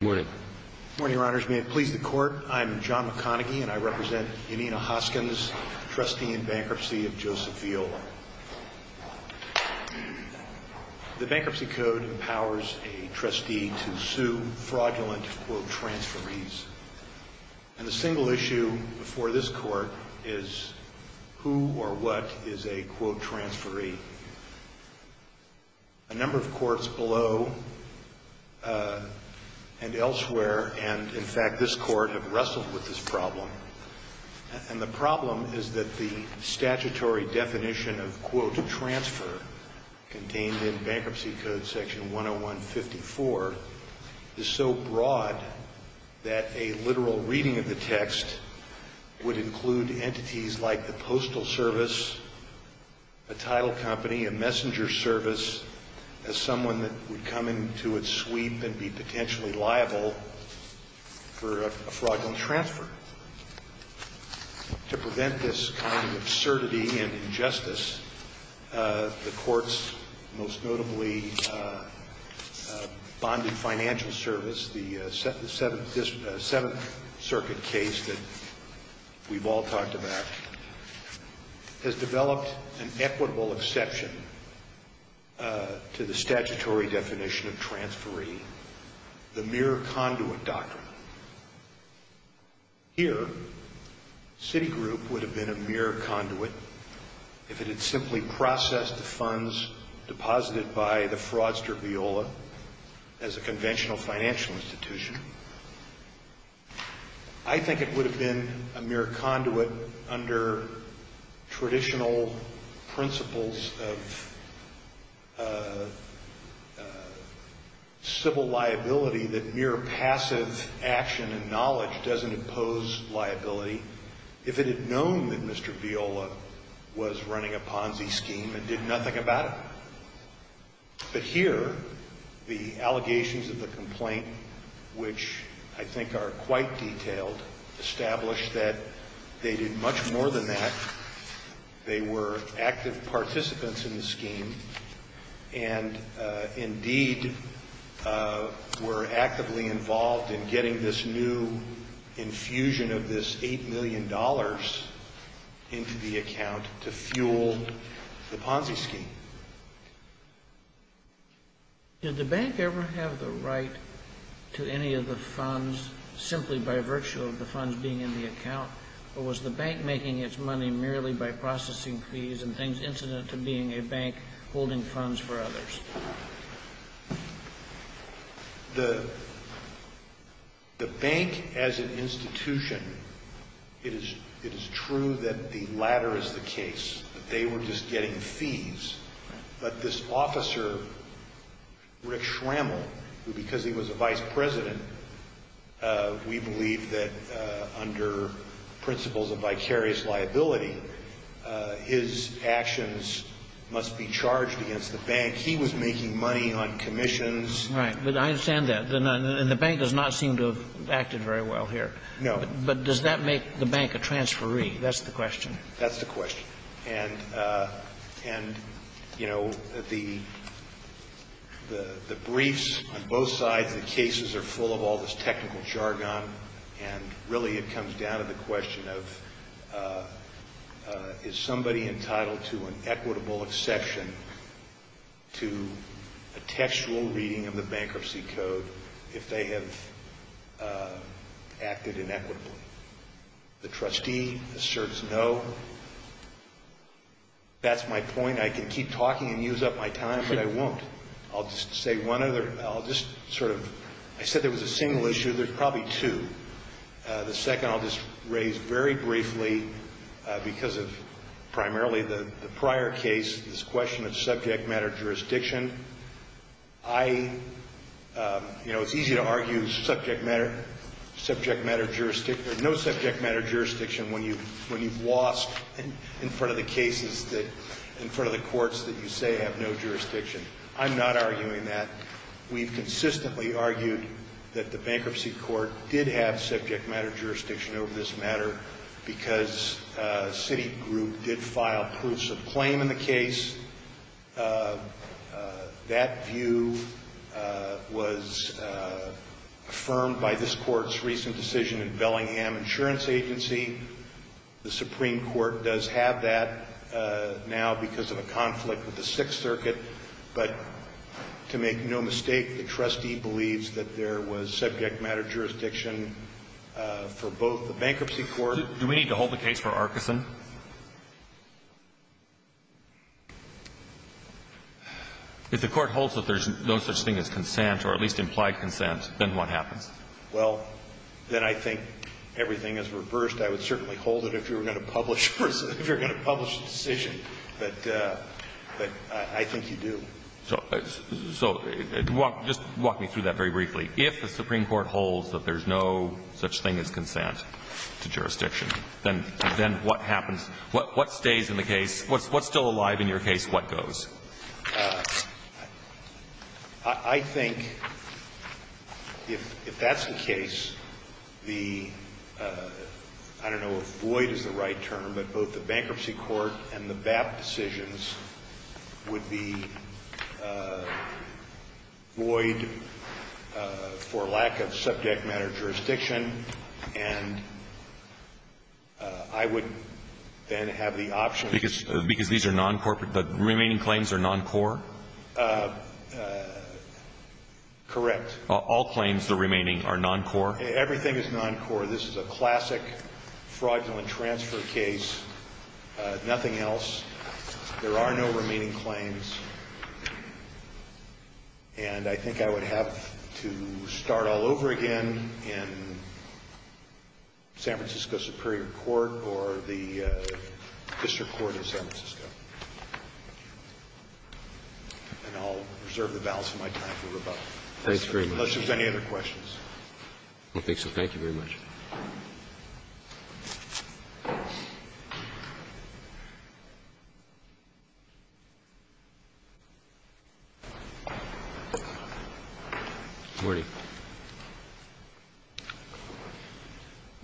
May it please the Court, I am John McConaughey and I represent Janina Hoskins, Trustee in Bankruptcy of Joseph Viola. The Bankruptcy Code empowers a trustee to sue fraudulent quote transferees. And the single issue before this Court is who or what is a quote transferee. A number of courts below and elsewhere and in fact this Court have wrestled with this problem. And the problem is that the statutory definition of quote transfer contained in Bankruptcy Code section 101-54 is so broad that a literal reading of the text would include entities like the postal service, a title company, a messenger service as someone that would come into its sweep and be potentially liable for a fraudulent transfer. To prevent this kind of absurdity and injustice, the Court's most notably bonded financial service, the Seventh Circuit case that we've all talked about, has developed an equitable exception to the statutory definition of transferee, the mere conduit doctrine. Here Citigroup would have been a mere conduit if it had simply processed the funds deposited by the fraudster Viola as a conventional financial institution. I think it would have been a mere conduit under traditional principles of civil liability that mere passive action and knowledge doesn't impose liability if it had known that Mr. Viola was running a Ponzi scheme and did nothing about it. But here the allegations of the complaint, which I think are quite detailed, establish that they did much more than that. They were active participants in the scheme and indeed were actively involved in getting this new infusion of this $8 million into the account to fuel the Ponzi scheme. Did the bank ever have the right to any of the funds simply by virtue of the funds being in the account, or was the bank making its money merely by processing fees and things incident to being a bank holding funds for others? The bank as an institution, it is true that the latter is the case, that they were just getting fees. But this officer, Rick Schrammel, who because he was a vice president, we believe that under principles of vicarious liability his actions must be charged against the bank. And he was making money on commissions. Right. But I understand that. And the bank does not seem to have acted very well here. No. But does that make the bank a transferee? That's the question. That's the question. And, you know, the briefs on both sides of the cases are full of all this technical and really it comes down to the question of is somebody entitled to an equitable exception to a textual reading of the bankruptcy code if they have acted inequitably? The trustee asserts no. That's my point. I can keep talking and use up my time, but I won't. I'll just say one other, I'll just sort of, I said there was a single issue. There's probably two. The second I'll just raise very briefly because of primarily the prior case, this question of subject matter jurisdiction. I, you know, it's easy to argue subject matter, subject matter jurisdiction, there's no subject matter jurisdiction when you've lost in front of the cases that, in front of the courts that you say have no jurisdiction. I'm not arguing that. We've consistently argued that the bankruptcy court did have subject matter jurisdiction over this matter because Citigroup did file proofs of claim in the case. That view was affirmed by this court's recent decision in Bellingham Insurance Agency. The Supreme Court does have that now because of a conflict with the Sixth Circuit. But to make no mistake, the trustee believes that there was subject matter jurisdiction for both the bankruptcy court. Do we need to hold the case for Arkeson? If the Court holds that there's no such thing as consent or at least implied consent, then what happens? Well, then I think everything is reversed. I would certainly hold it if you were going to publish the decision, but I think you do. So just walk me through that very briefly. If the Supreme Court holds that there's no such thing as consent to jurisdiction, then what happens? What stays in the case? What's still alive in your case? What goes? I think if that's the case, the, I don't know if void is the right term, but both the bankruptcy court and the BAP decisions would be void for lack of subject matter jurisdiction. And I would then have the option. Because these are non-corporate, the remaining claims are non-core? Correct. All claims, the remaining are non-core? Everything is non-core. This is a classic fraudulent transfer case, nothing else. There are no remaining claims. And I think I would have to start all over again in San Francisco Superior Court or the district court in San Francisco. And I'll reserve the balance of my time for rebuttal. Thanks very much. Unless there's any other questions. I don't think so. Thank you very much. Good morning.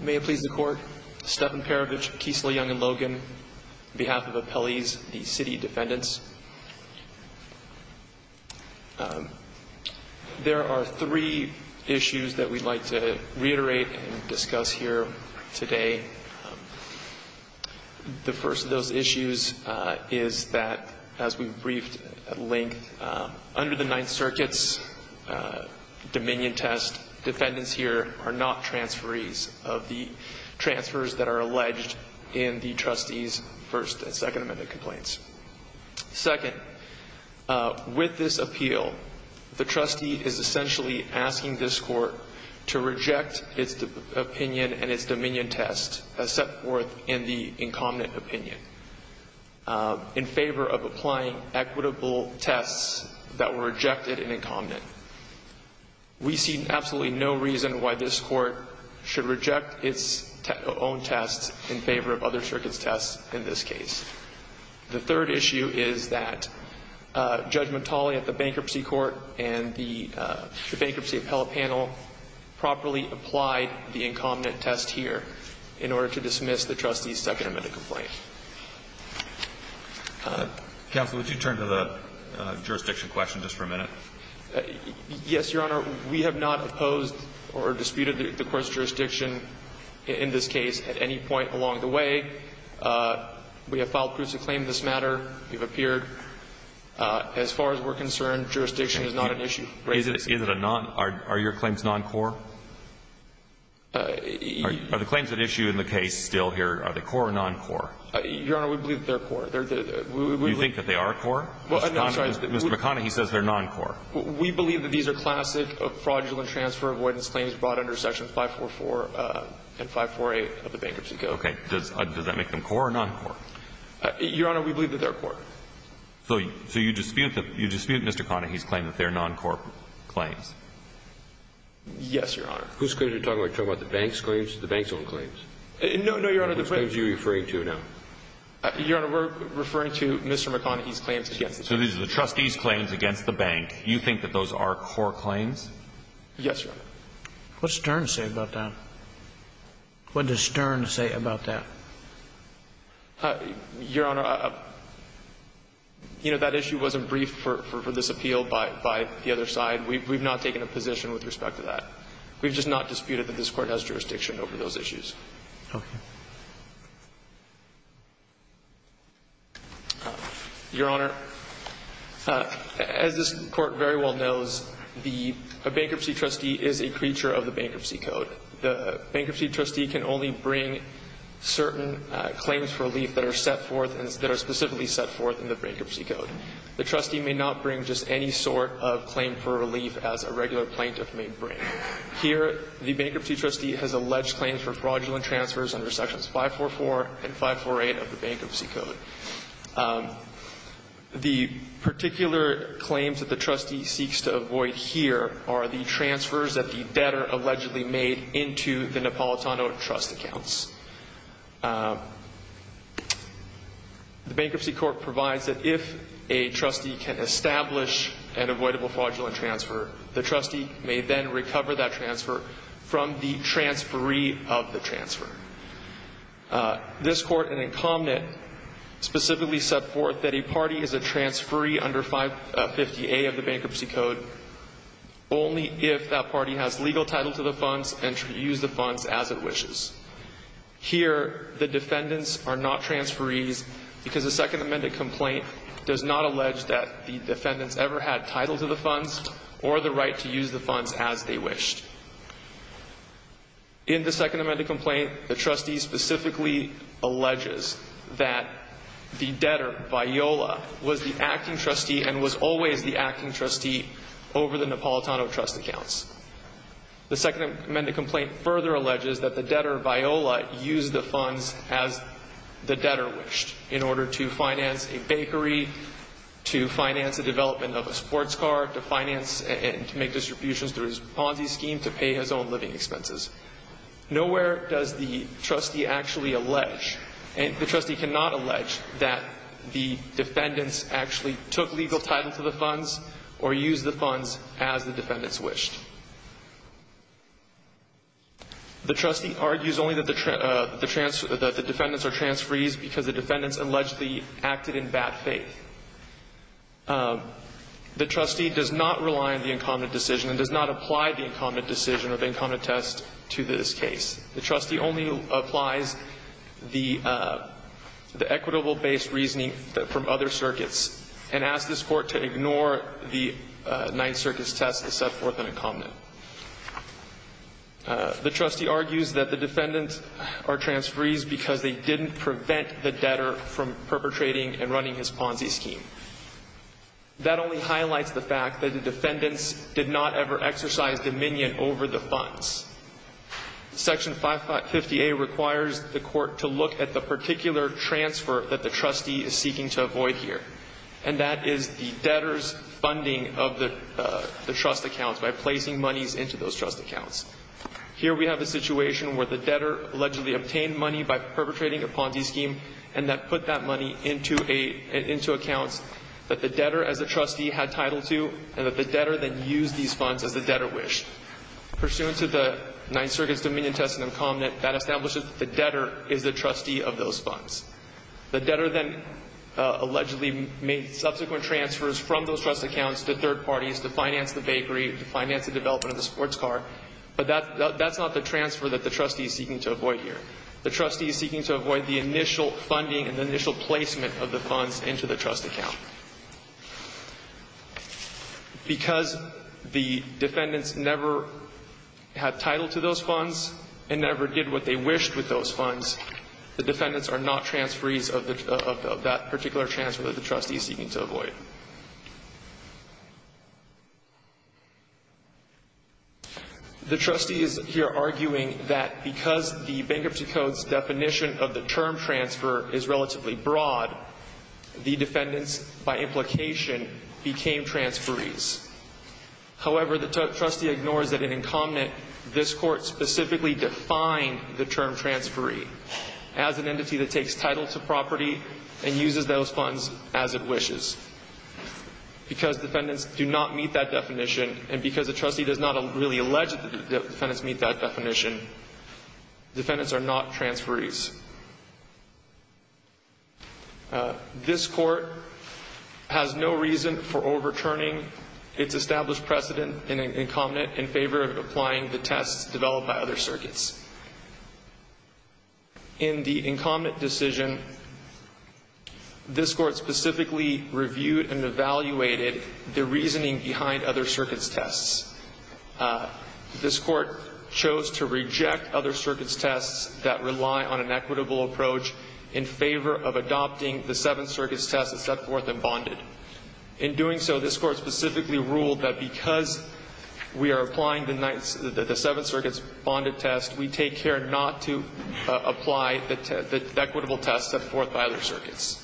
May it please the Court. Stephen Perovich, Kiesel, Young & Logan, on behalf of appellees, the city defendants. There are three issues that we'd like to reiterate and discuss here today. The first of those issues is that, as we've briefed at length, under the Ninth Circuit's dominion test, defendants here are not transferees of the transfers that are alleged in the trustees' First and Second Amendment complaints. Second, with this appeal, the trustee is essentially asking this court to reject its opinion and its dominion test as set forth in the incumbent opinion in favor of applying equitable tests that were rejected in incumbent. We see absolutely no reason why this court should reject its own tests in favor of other circuits' tests in this case. The third issue is that Judge Mottoli at the Bankruptcy Court and the bankruptcy appellate panel properly applied the incumbent test here in order to dismiss the trustees' Second Amendment complaint. Counsel, would you turn to the jurisdiction question just for a minute? Yes, Your Honor. We have not opposed or disputed the court's jurisdiction in this case at any point along the way. We have filed proofs of claim in this matter. We've appeared. As far as we're concerned, jurisdiction is not an issue. Is it a non – are your claims non-core? Are the claims at issue in the case still here, are they core or non-core? Your Honor, we believe they're core. Do you think that they are core? Mr. McConnell, he says they're non-core. We believe that these are classic fraudulent transfer avoidance claims brought under sections 544 and 548 of the Bankruptcy Code. Okay. Does that make them core or non-core? Your Honor, we believe that they're core. So you dispute Mr. McConnell's claim that they're non-core claims? Yes, Your Honor. Whose claims are you talking about? Are you talking about the bank's claims or the bank's own claims? No, Your Honor. Which claims are you referring to now? Your Honor, we're referring to Mr. McConnell's claims against the bank. So these are the trustees' claims against the bank. You think that those are core claims? Yes, Your Honor. What does Stern say about that? Your Honor, you know, that issue wasn't briefed for this appeal by the other side. We've not taken a position with respect to that. We've just not disputed that this Court has jurisdiction over those issues. Okay. Your Honor, as this Court very well knows, the bankruptcy trustee is a creature of the Bankruptcy Code. The bankruptcy trustee can only bring certain claims for relief that are set forth and that are specifically set forth in the Bankruptcy Code. The trustee may not bring just any sort of claim for relief as a regular plaintiff may bring. Here, the bankruptcy trustee has alleged claims for fraudulent transfers under Sections 544 and 548 of the Bankruptcy Code. The particular claims that the trustee seeks to avoid here are the transfers that the debtor allegedly made into the Napolitano trust accounts. The Bankruptcy Court provides that if a trustee can establish an avoidable fraudulent transfer, the trustee may then recover that transfer from the transferee of the transfer. This Court and incumbent specifically set forth that a party is a transferee under 550A of the Bankruptcy Code only if that party has legal title to the funds and should use the funds as it wishes. Here, the defendants are not transferees because the Second Amendment complaint does not allege that the defendants ever had title to the funds or the right to use the funds as they wished. In the Second Amendment complaint, the trustee specifically alleges that the debtor, Viola, was the acting trustee and was always the acting trustee over the Napolitano trust accounts. The Second Amendment complaint further alleges that the debtor, Viola, used the funds as the debtor wished in order to finance a bakery, to finance the development of a sports car, to finance and make distributions through his Ponzi scheme, to pay his own living expenses. Nowhere does the trustee actually allege, and the trustee cannot allege, that the defendants actually took legal title to the funds or used the funds as the defendants wished. The trustee argues only that the defendants are transferees because the defendants allegedly acted in bad faith. The trustee does not rely on the incumbent decision and does not apply the incumbent decision or the incumbent test to this case. The trustee only applies the equitable-based reasoning from other circuits and asks this Court to ignore the Ninth Circuit's test to set forth an incumbent. The trustee argues that the defendants are transferees because they didn't prevent the debtor from perpetrating and running his Ponzi scheme. That only highlights the fact that the defendants did not ever exercise dominion over the funds. Section 550A requires the Court to look at the particular transfer that the trustee is seeking to avoid here, and that is the debtor's funding of the trust accounts by placing monies into those trust accounts. Here we have a situation where the debtor allegedly obtained money by perpetrating a Ponzi scheme and put that money into accounts that the debtor as a trustee had title to and that the debtor then used these funds as the debtor wished. Pursuant to the Ninth Circuit's dominion test in incumbent, that establishes that the debtor is the trustee of those funds. The debtor then allegedly made subsequent transfers from those trust accounts to third parties to finance the bakery, to finance the development of the sports car, but that's not the transfer that the trustee is seeking to avoid here. The trustee is seeking to avoid the initial funding and the initial placement of the funds into the trust account. Because the defendants never had title to those funds and never did what they wished with those funds, the defendants are not transferees of that particular transfer that the trustee is seeking to avoid. The trustee is here arguing that because the Bankruptcy Code's definition of the term transfer is relatively broad, the defendants, by implication, became transferees. However, the trustee ignores that in incumbent, this court specifically defined the term transferee as an entity that takes title to property and uses those funds as it wishes. Because defendants do not meet that definition and because the trustee does not really allege that the defendants meet that definition, defendants are not transferees. This court has no reason for overturning its established precedent in incumbent in favor of applying the tests developed by other circuits. In the incumbent decision, this court specifically reviewed and evaluated the reasoning behind other circuits' tests. This court chose to reject other circuits' tests that rely on an equitable approach in favor of adopting the Seventh Circuit's test of set-forth and bonded. In doing so, this court specifically ruled that because we are applying the Seventh Circuit's bonded test, we take care not to apply the equitable test set forth by other circuits.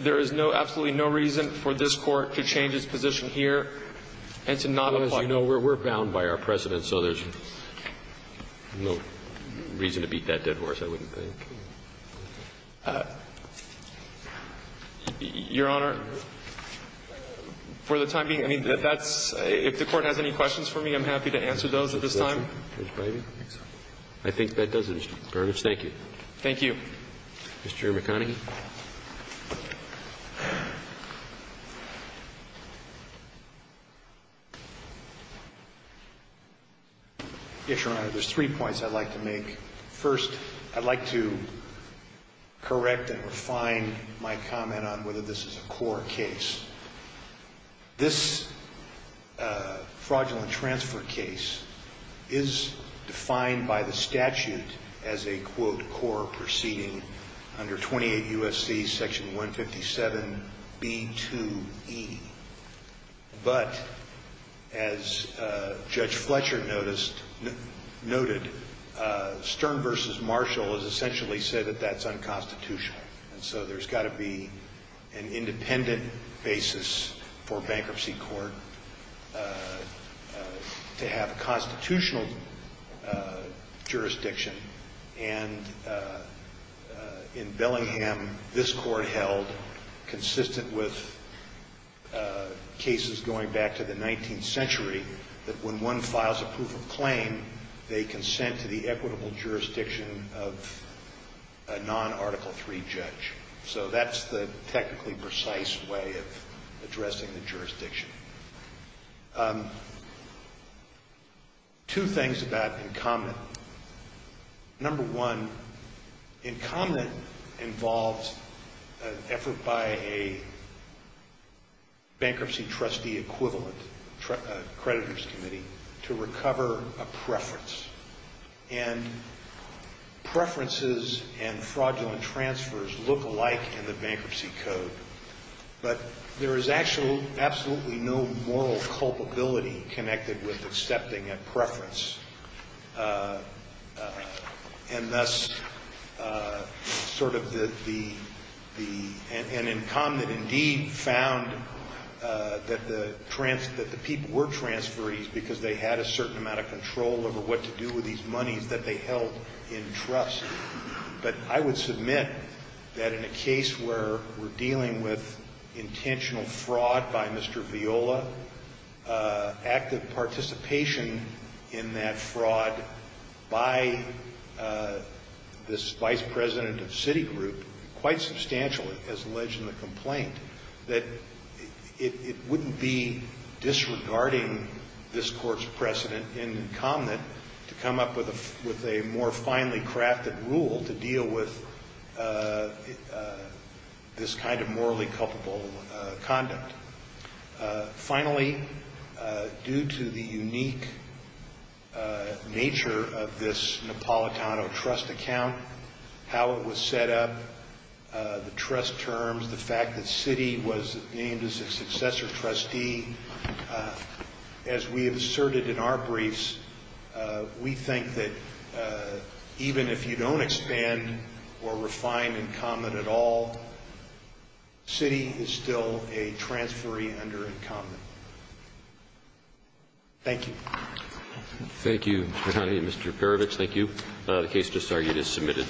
There is no, absolutely no reason for this court to change its position here and to not apply. As you know, we're bound by our precedent, so there's no reason to beat that dead horse, I wouldn't think. Your Honor, for the time being, I mean, that's – if the Court has any questions for me, I'm happy to answer those at this time. I think that does it, Mr. Garner. Thank you. Thank you. Mr. McConaghy. Yes, Your Honor. There's three points I'd like to make. First, I'd like to correct and refine my comment on whether this is a core case. This fraudulent transfer case is defined by the statute as a, quote, core proceeding under 28 U.S.C. Section 157b2e. But as Judge Fletcher noted, Stern v. Marshall has essentially said that that's unconstitutional. And so there's got to be an independent basis for a bankruptcy court to have a constitutional jurisdiction. And in Bellingham, this court held, consistent with cases going back to the 19th century, that when one files a proof of claim, they consent to the equitable jurisdiction of a non-Article III judge. So that's the technically precise way of addressing the jurisdiction. Two things about incumbent. Number one, incumbent involves an effort by a bankruptcy trustee equivalent creditors committee to recover a preference. And preferences and fraudulent transfers look alike in the bankruptcy code. But there is absolutely no moral culpability connected with accepting a preference. And thus, sort of the, an incumbent indeed found that the people were transferees because they had a certain amount of control over what to do with these monies that they held in trust. But I would submit that in a case where we're dealing with intentional fraud by Mr. Viola, active participation in that fraud by this vice president of Citigroup, quite substantially, as alleged in the complaint, that it wouldn't be disregarding this Court's precedent in incumbent to come up with a more finely crafted rule to deal with this kind of morally culpable conduct. Finally, due to the unique nature of this Napolitano trust account, how it was set up, the trust terms, the fact that Citi was named as a successor trustee, as we have asserted in our briefs, we think that even if you don't expand or refine incumbent at all, Citi is still a transferee under incumbent. Thank you. Thank you, Your Honor. Mr. Paravich, thank you. The case just argued is submitted.